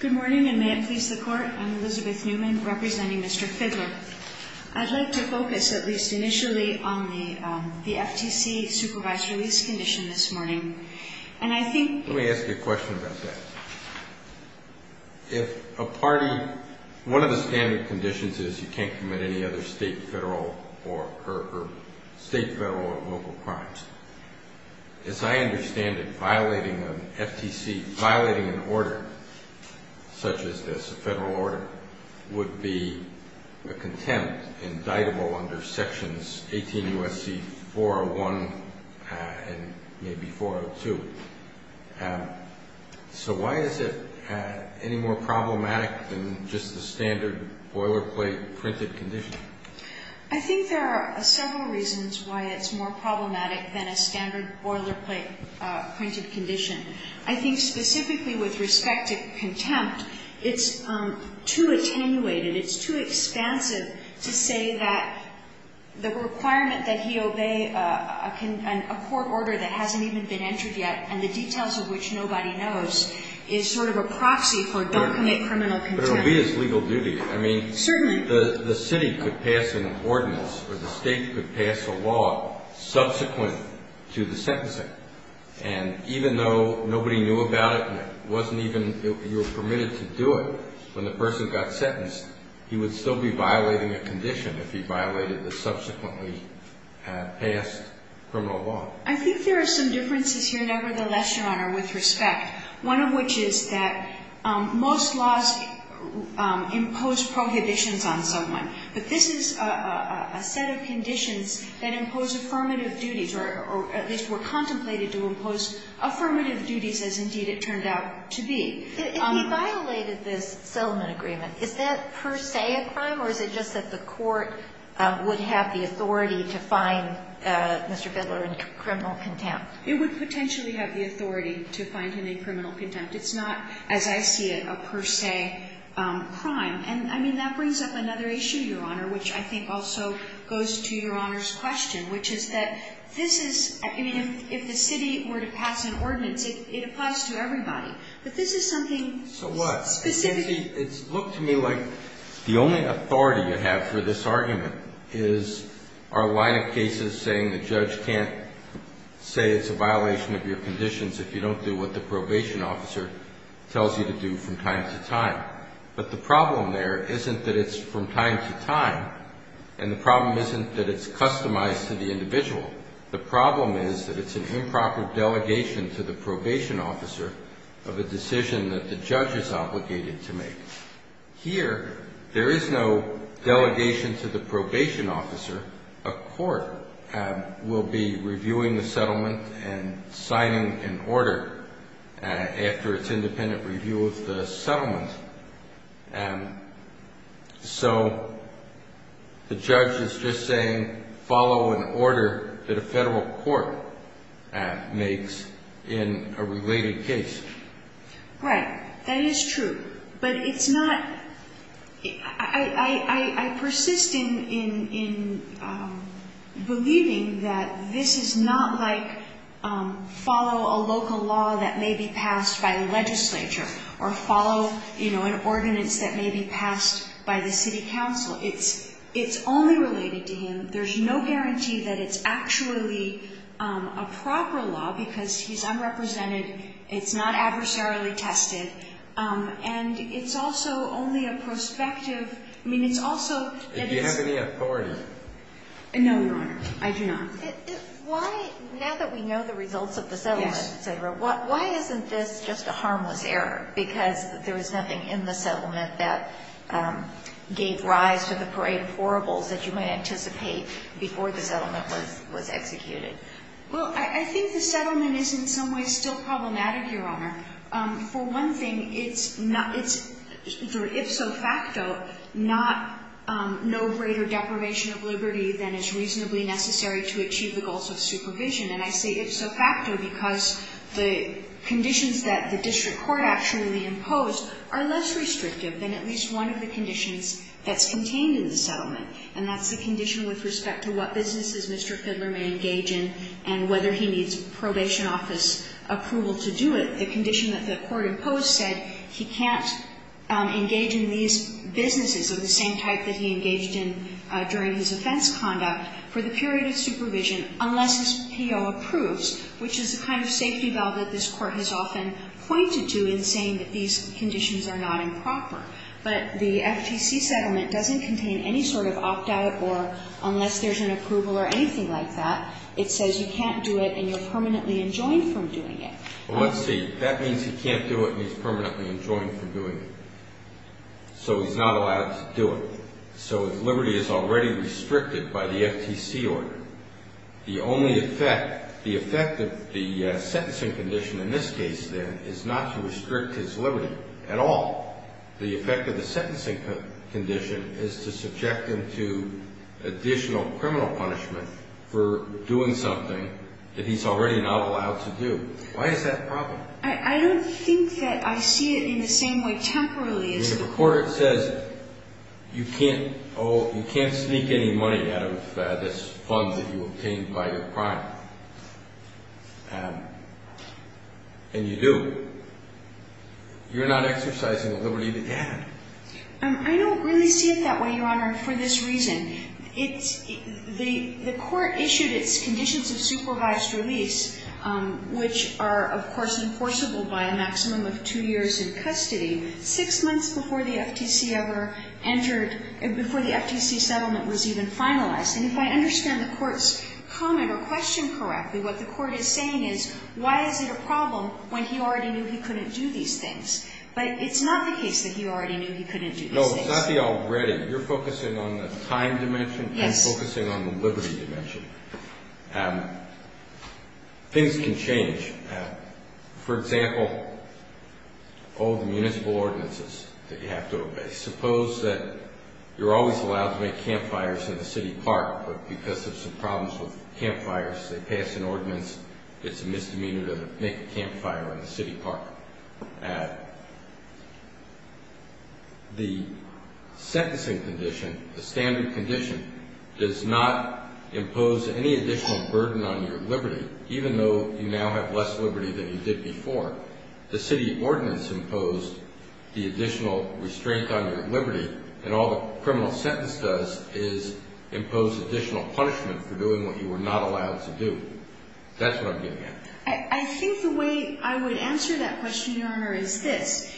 Good morning, and may it please the court. I'm Elizabeth Newman, representing Mr. Fidler. I'd like to focus, at least initially, on the FTC supervised release condition this morning. Let me ask you a question about that. One of the standard conditions is you can't commit any other state, federal, or local crimes. As I understand it, violating an FTC, violating an order such as this, a federal order, would be a contempt indictable under Sections 18 U.S.C. 401 and maybe 402. So why is it any more problematic than just the standard boilerplate printed condition? I think there are several reasons why it's more problematic than a standard boilerplate printed condition. I think specifically with respect to contempt, it's too attenuated, it's too expansive to say that the requirement that he obey a court order that hasn't even been entered yet, and the details of which nobody knows, is sort of a proxy for don't commit criminal contempt. But it'll be his legal duty. Certainly. The city could pass an ordinance, or the state could pass a law subsequent to the sentencing. And even though nobody knew about it and it wasn't even, you were permitted to do it when the person got sentenced, he would still be violating a condition if he violated the subsequently passed criminal law. I think there are some differences here, nevertheless, Your Honor, with respect. One of which is that most laws impose prohibitions on someone. But this is a set of conditions that impose affirmative duties, or at least were contemplated to impose affirmative duties as indeed it turned out to be. If he violated this settlement agreement, is that per se a crime, or is it just that the court would have the authority to find Mr. Bidler in criminal contempt? It would potentially have the authority to find him in criminal contempt. It's not, as I see it, a per se crime. And, I mean, that brings up another issue, Your Honor, which I think also goes to Your Honor's question, which is that this is, I mean, if the city were to pass an ordinance, it applies to everybody. But this is something specific. So what? You see, it's looked to me like the only authority you have for this argument is our line of cases saying the judge can't say it's a violation of your conditions if you don't do what the probation officer tells you to do from time to time. But the problem there isn't that it's from time to time, and the problem isn't that it's customized to the individual. The problem is that it's an improper delegation to the probation officer of a decision that the judge is obligated to make. Here, there is no delegation to the probation officer. A court will be reviewing the settlement and signing an order after its independent review of the settlement. So the judge is just saying follow an order that a federal court makes in a related case. Right. That is true. But it's not – I persist in believing that this is not like follow a local law that may be passed by a legislature or follow, you know, an ordinance that may be passed by the city council. It's only related to him. There's no guarantee that it's actually a proper law because he's unrepresented. It's not adversarially tested. And it's also only a prospective – I mean, it's also – Do you have any authority? No, Your Honor. I do not. Why – now that we know the results of the settlement, et cetera, why isn't this just a harmless error because there was nothing in the settlement that gave rise to the parade of horribles that you might anticipate before the settlement was executed? Well, I think the settlement is in some ways still problematic, Your Honor. For one thing, it's not – it's ipso facto not – no greater deprivation of liberty than is reasonably necessary to achieve the goals of supervision. And I say ipso facto because the conditions that the district court actually imposed are less restrictive than at least one of the conditions that's contained in the settlement. And that's the condition with respect to what businesses Mr. Fidler may engage in and whether he needs probation office approval to do it. The condition that the court imposed said he can't engage in these businesses of the same type that he engaged in during his offense conduct for the period of supervision unless his PO approves, which is the kind of safety valve that this court has often pointed to in saying that these conditions are not improper. But the FTC settlement doesn't contain any sort of opt-out or unless there's an approval or anything like that. It says you can't do it and you're permanently enjoined from doing it. Well, let's see. That means he can't do it and he's permanently enjoined from doing it. So he's not allowed to do it. So his liberty is already restricted by the FTC order. The only effect – the effect of the sentencing condition in this case, then, is not to restrict his liberty at all. The effect of the sentencing condition is to subject him to additional criminal punishment for doing something that he's already not allowed to do. Why is that a problem? I don't think that I see it in the same way temporarily. The court says you can't sneak any money out of this fund that you obtained by your crime. And you do. You're not exercising the liberty that you have. I don't really see it that way, Your Honor, for this reason. It's – the court issued its conditions of supervised release, which are, of course, enforceable by a maximum of two years in custody, six months before the FTC ever entered – before the FTC settlement was even finalized. And if I understand the court's comment or question correctly, what the court is saying is why is it a problem when he already knew he couldn't do these things? But it's not the case that he already knew he couldn't do these things. No, it's not the already. You're focusing on the time dimension. Yes. I'm focusing on the liberty dimension. Things can change. For example, all the municipal ordinances that you have to obey. Suppose that you're always allowed to make campfires in the city park, because there's some problems with campfires. They pass an ordinance. It's a misdemeanor to make a campfire in the city park. The sentencing condition, the standard condition, does not impose any additional burden on your liberty, even though you now have less liberty than you did before. The city ordinance imposed the additional restraint on your liberty, and all the criminal sentence does is impose additional punishment for doing what you were not allowed to do. That's what I'm getting at. I think the way I would answer that question, Your Honor, is this.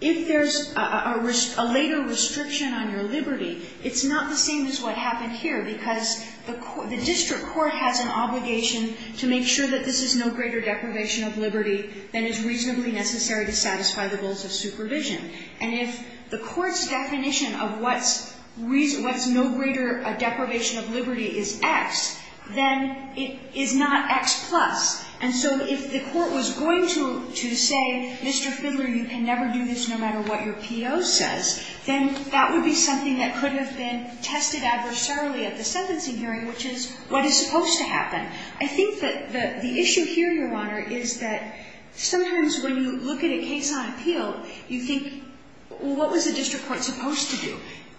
If there's a later restriction on your liberty, it's not the same as what happened here, because the district court has an obligation to make sure that this is no greater deprivation of liberty than is reasonably necessary to satisfy the rules of supervision. And if the court's definition of what's no greater a deprivation of liberty is X, then it is not X plus. And so if the court was going to say, Mr. Fidler, you can never do this no matter what your P.O. says, then that would be something that could have been tested adversarially at the sentencing hearing, which is what is supposed to happen. I think that the issue here, Your Honor, is that sometimes when you look at a case on appeal, you think, well, what was the district court supposed to do?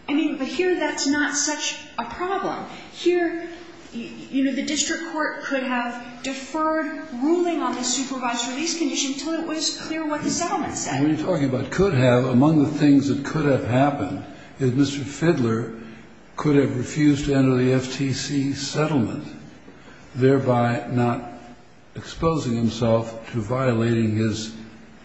I mean, but here that's not such a problem. Here, you know, the district court could have deferred ruling on the supervised release condition until it was clear what the settlement said. What are you talking about? Could have. Among the things that could have happened is Mr. Fidler could have refused to enter the FTC settlement. Thereby not exposing himself to violating his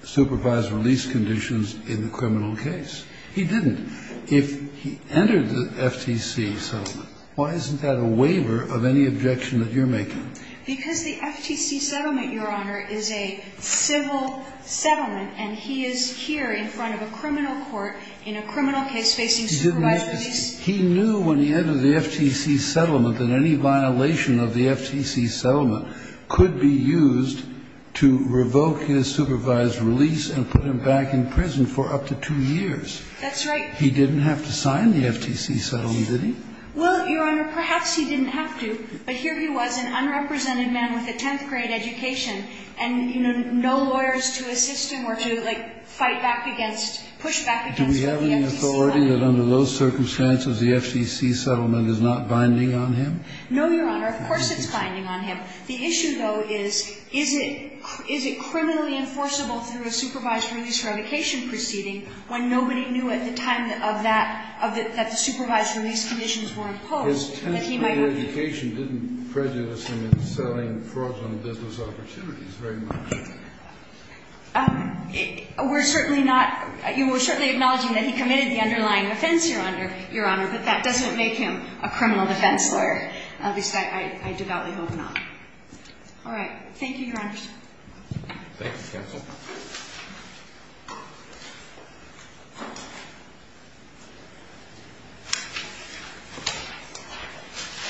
supervised release conditions in the criminal case. He didn't. If he entered the FTC settlement, why isn't that a waiver of any objection that you're making? Because the FTC settlement, Your Honor, is a civil settlement, and he is here in front of a criminal court in a criminal case facing supervised release. He knew when he entered the FTC settlement that any violation of the FTC settlement could be used to revoke his supervised release and put him back in prison for up to two years. That's right. He didn't have to sign the FTC settlement, did he? Well, Your Honor, perhaps he didn't have to, but here he was, an unrepresented man with a tenth-grade education, and, you know, no lawyers to assist him or to, like, fight back against, push back against the FTC settlement. Does he have any authority that under those circumstances the FTC settlement is not binding on him? No, Your Honor. Of course it's binding on him. The issue, though, is, is it criminally enforceable through a supervised release revocation proceeding when nobody knew at the time of that, that the supervised release conditions were imposed that he might have been? His tenth-grade education didn't prejudice him in selling fraudulent business opportunities very much. We're certainly not, you know, we're certainly acknowledging that he committed the underlying offense, Your Honor, but that doesn't make him a criminal defense lawyer, at least I devoutly hope not. All right. Thank you, Your Honors. Thank you, counsel.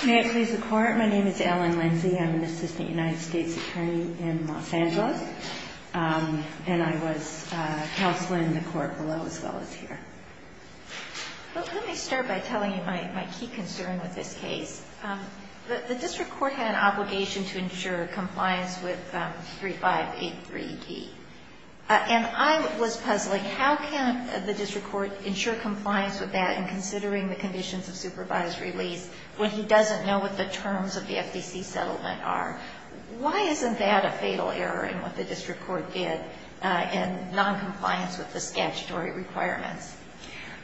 May it please the Court. My name is Ellen Lindsey. I'm an assistant United States attorney in Los Angeles. And I was counsel in the court below as well as here. Let me start by telling you my key concern with this case. The district court had an obligation to ensure compliance with 3583D. And I was puzzling, how can the district court ensure compliance with that in considering the conditions of supervised release when he doesn't know what the terms of the FTC settlement are? Why isn't that a fatal error in what the district court did in noncompliance with the statutory requirements?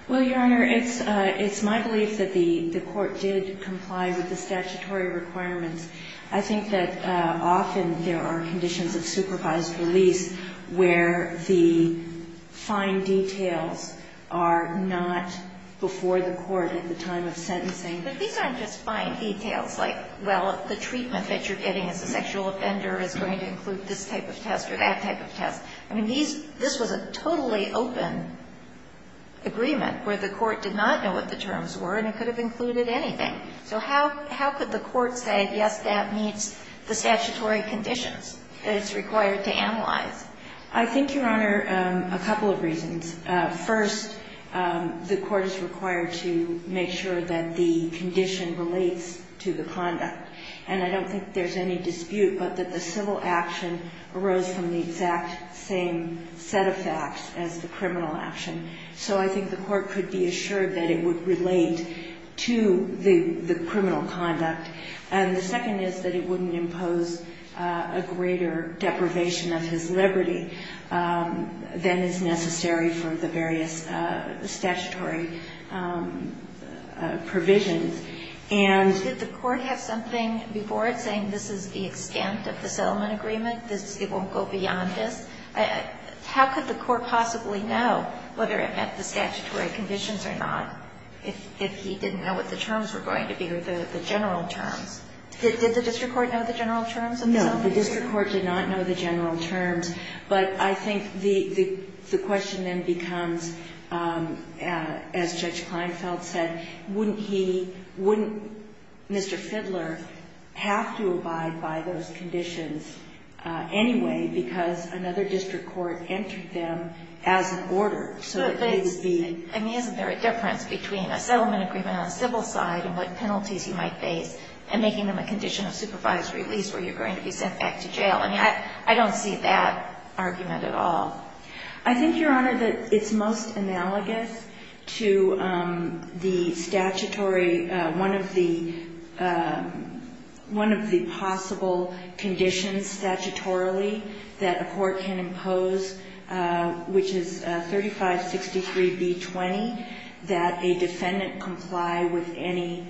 Well, Your Honor, it's my belief that the court did comply with the statutory requirements. I think that often there are conditions of supervised release where the fine details are not before the court at the time of sentencing. But these aren't just fine details like, well, the treatment that you're getting as a sexual offender is going to include this type of test or that type of test. I mean, these — this was a totally open agreement where the court did not know what the terms were, and it could have included anything. So how could the court say, yes, that meets the statutory conditions that it's required to analyze? I think, Your Honor, a couple of reasons. First, the court is required to make sure that the condition relates to the conduct. And I don't think there's any dispute but that the civil action arose from the exact same set of facts as the criminal action. So I think the court could be assured that it would relate to the criminal conduct. And the second is that it wouldn't impose a greater deprivation of his liberty than is necessary for the various statutory provisions. And — Did the court have something before it saying this is the extent of the settlement agreement, it won't go beyond this? How could the court possibly know whether it met the statutory conditions or not if he didn't know what the terms were going to be or the general terms? Did the district court know the general terms of the settlement agreement? The district court did not know the general terms, but I think the question then becomes, as Judge Kleinfeld said, wouldn't he, wouldn't Mr. Fidler have to abide by those conditions anyway because another district court entered them as an order so that they would be — But isn't there a difference between a settlement agreement on the civil side and what penalties you might face and making them a condition of supervised release where you're going to be sent back to jail? I mean, I don't see that argument at all. I think, Your Honor, that it's most analogous to the statutory — one of the possible conditions statutorily that a court can impose, which is 3563B20, that a defendant comply with any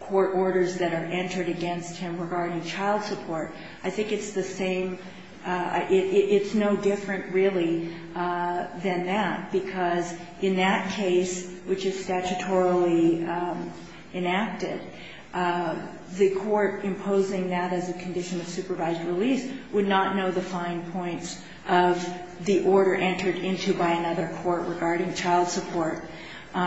court orders that are entered against him regarding child support. I think it's the same — it's no different, really, than that, because in that case, which is statutorily enacted, the court imposing that as a condition of supervised release would not know the fine points of the order entered into by another court regarding child support. Do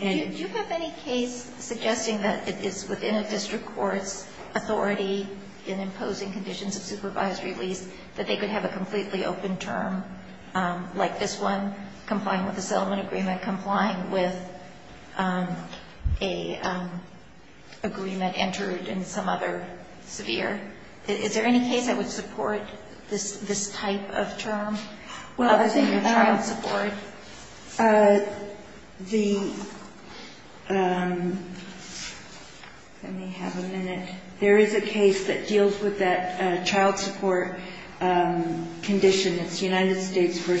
you have any case suggesting that it is within a district court's authority in imposing conditions of supervised release that they could have a completely open term like this one, complying with a settlement agreement, complying with an agreement entered in some other severe — is there any case that would support this type of term? Well, the — I'm thinking of child support. The — let me have a minute. There is a case that deals with that child support condition. It's United States v.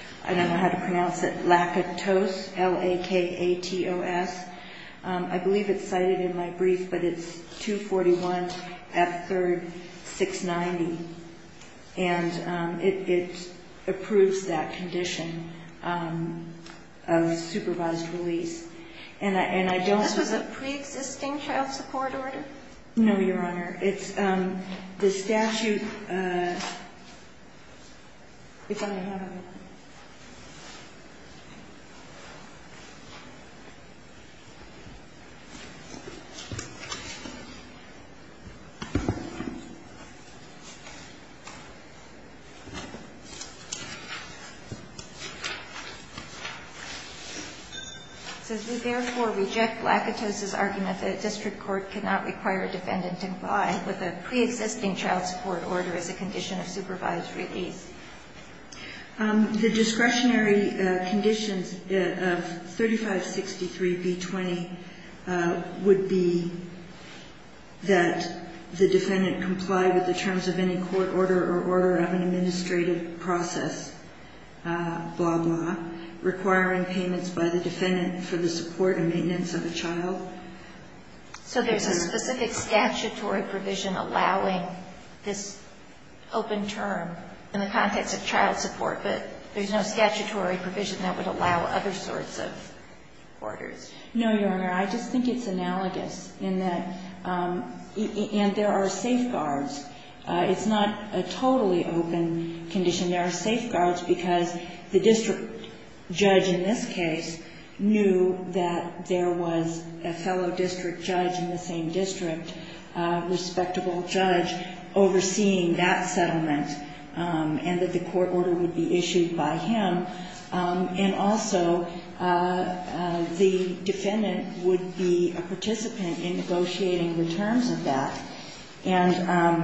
— I don't know how to pronounce it — Lakatos, L-A-K-A-T-O-S. I believe it's cited in my brief, but it's 241 F. 3rd, 690. And it approves that condition of supervised release. And I don't — This was a preexisting child support order? No, Your Honor. It's the statute — if I have it. So do you therefore reject Lakatos' argument that a district court cannot require a defendant to comply with a preexisting child support order as a condition of supervised release? The discretionary conditions of 3563b20 would be that the defendant comply with the terms of any court order or order of an administrative process, blah, blah, requiring payments by the defendant for the support and maintenance of a child. So there's a specific statutory provision allowing this open term in the context of child support, but there's no statutory provision that would allow other sorts of orders? No, Your Honor. I just think it's analogous in that — and there are safeguards. It's not a totally open condition. There are safeguards because the district judge in this case knew that there was a fellow district judge in the same district, respectable judge, overseeing that settlement and that the court order would be issued by him. And also, the defendant would be a participant in negotiating the terms of that. And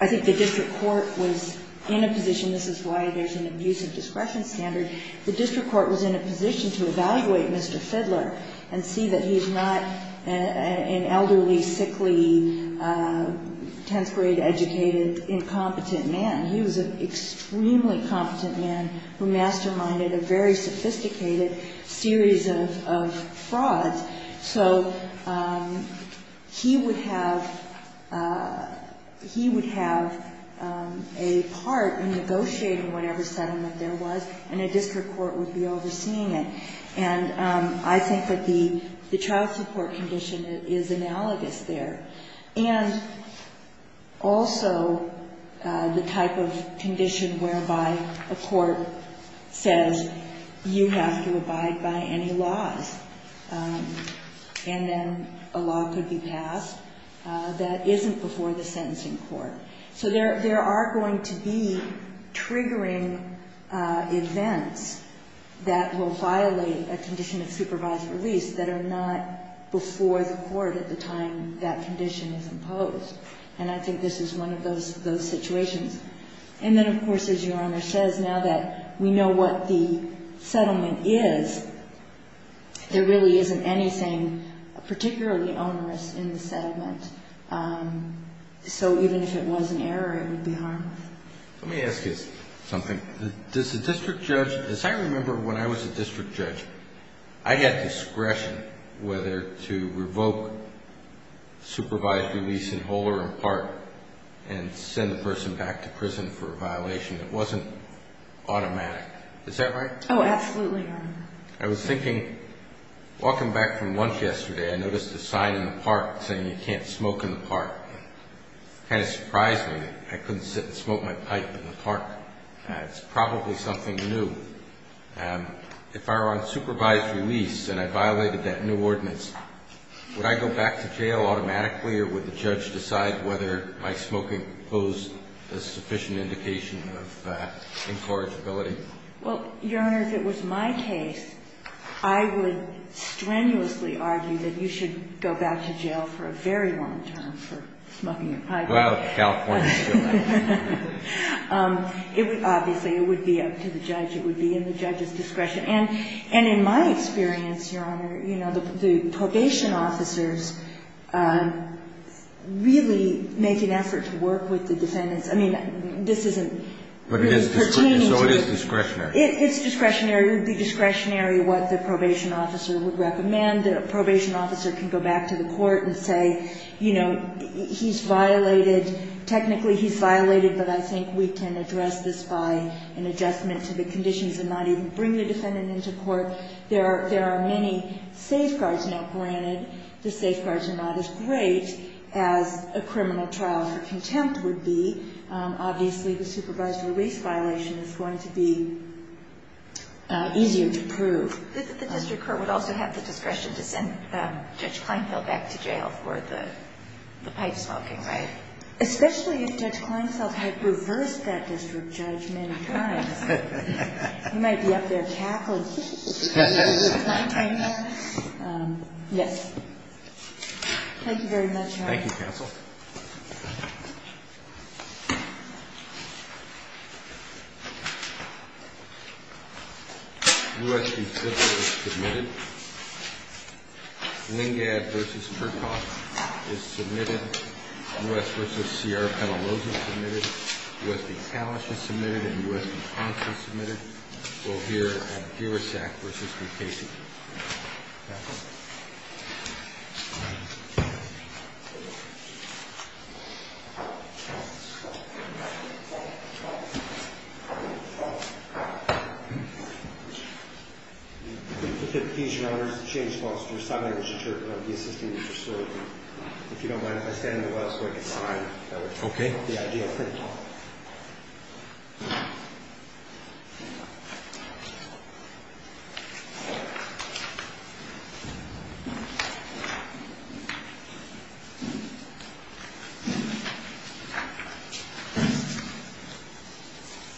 I think the district court was in a position — this is why there's an abusive discretion standard — the district court was in a position to evaluate Mr. Fidler and see that he's not an elderly, sickly, 10th grade educated, incompetent man. He was an extremely competent man who masterminded a very sophisticated series of frauds. So he would have — he would have a part in negotiating whatever settlement there was, and a district court would be overseeing it. And I think that the child support condition is analogous there. And also, the type of condition whereby a court says, you have to abide by any laws, and then a law could be passed that isn't before the sentencing court. So there are going to be triggering events that will violate a condition of the child support condition. And then, of course, as Your Honor says, now that we know what the settlement is, there really isn't anything particularly onerous in the settlement. So even if it was an error, it would be harmed. Let me ask you something. Does the district judge — as I remember when I was a district judge, I had discretion whether to revoke supervised release in whole or in part, and send the person back to prison for a violation that wasn't automatic. Is that right? Oh, absolutely, Your Honor. I was thinking — walking back from lunch yesterday, I noticed a sign in the park saying you can't smoke in the park. It kind of surprised me that I couldn't sit and smoke my pipe in the park. It's probably something new. If I were on supervised release and I violated that new ordinance, would I go back to jail automatically, or would the judge decide whether my smoking posed a sufficient indication of incorrigibility? Well, Your Honor, if it was my case, I would strenuously argue that you should go back to jail for a very long term for smoking your pipe. Well, California still has it. Obviously, it would be up to the judge. It would be in the judge's discretion. And in my experience, Your Honor, the probation officers really make an effort to work with the defendants. I mean, this isn't pertaining to — But it is discretionary. So it is discretionary. It's discretionary. It would be discretionary what the probation officer would recommend. A probation officer can go back to the court and say, you know, he's violated — technically he's violated, but I think we can address this by an adjustment to the conditions and not even bring the defendant into court. There are many safeguards now granted. The safeguards are not as great as a criminal trial for contempt would be. Obviously, the supervised release violation is going to be easier to prove. The district court would also have the discretion to send Judge Kleinfeld back to jail for the pipe smoking, right? Especially if Judge Kleinfeld had reversed that district judge many times. He might be up there cackling. Thank you very much, Your Honor. Thank you, counsel. U.S. v. Fischer is submitted. Lingad v. Kirchhoff is submitted. U.S. v. CR Petalos is submitted. U.S. v. Kalish is submitted, and U.S. v. Ponce is submitted. We'll hear a Girasak v. McCasey. Back up. If it please Your Honor, this is James Ponce, your sign language interpreter. I'll be assisting you with your story. If you don't mind, if I stand up so I can sign, that would help the idea. Okay. Thank you.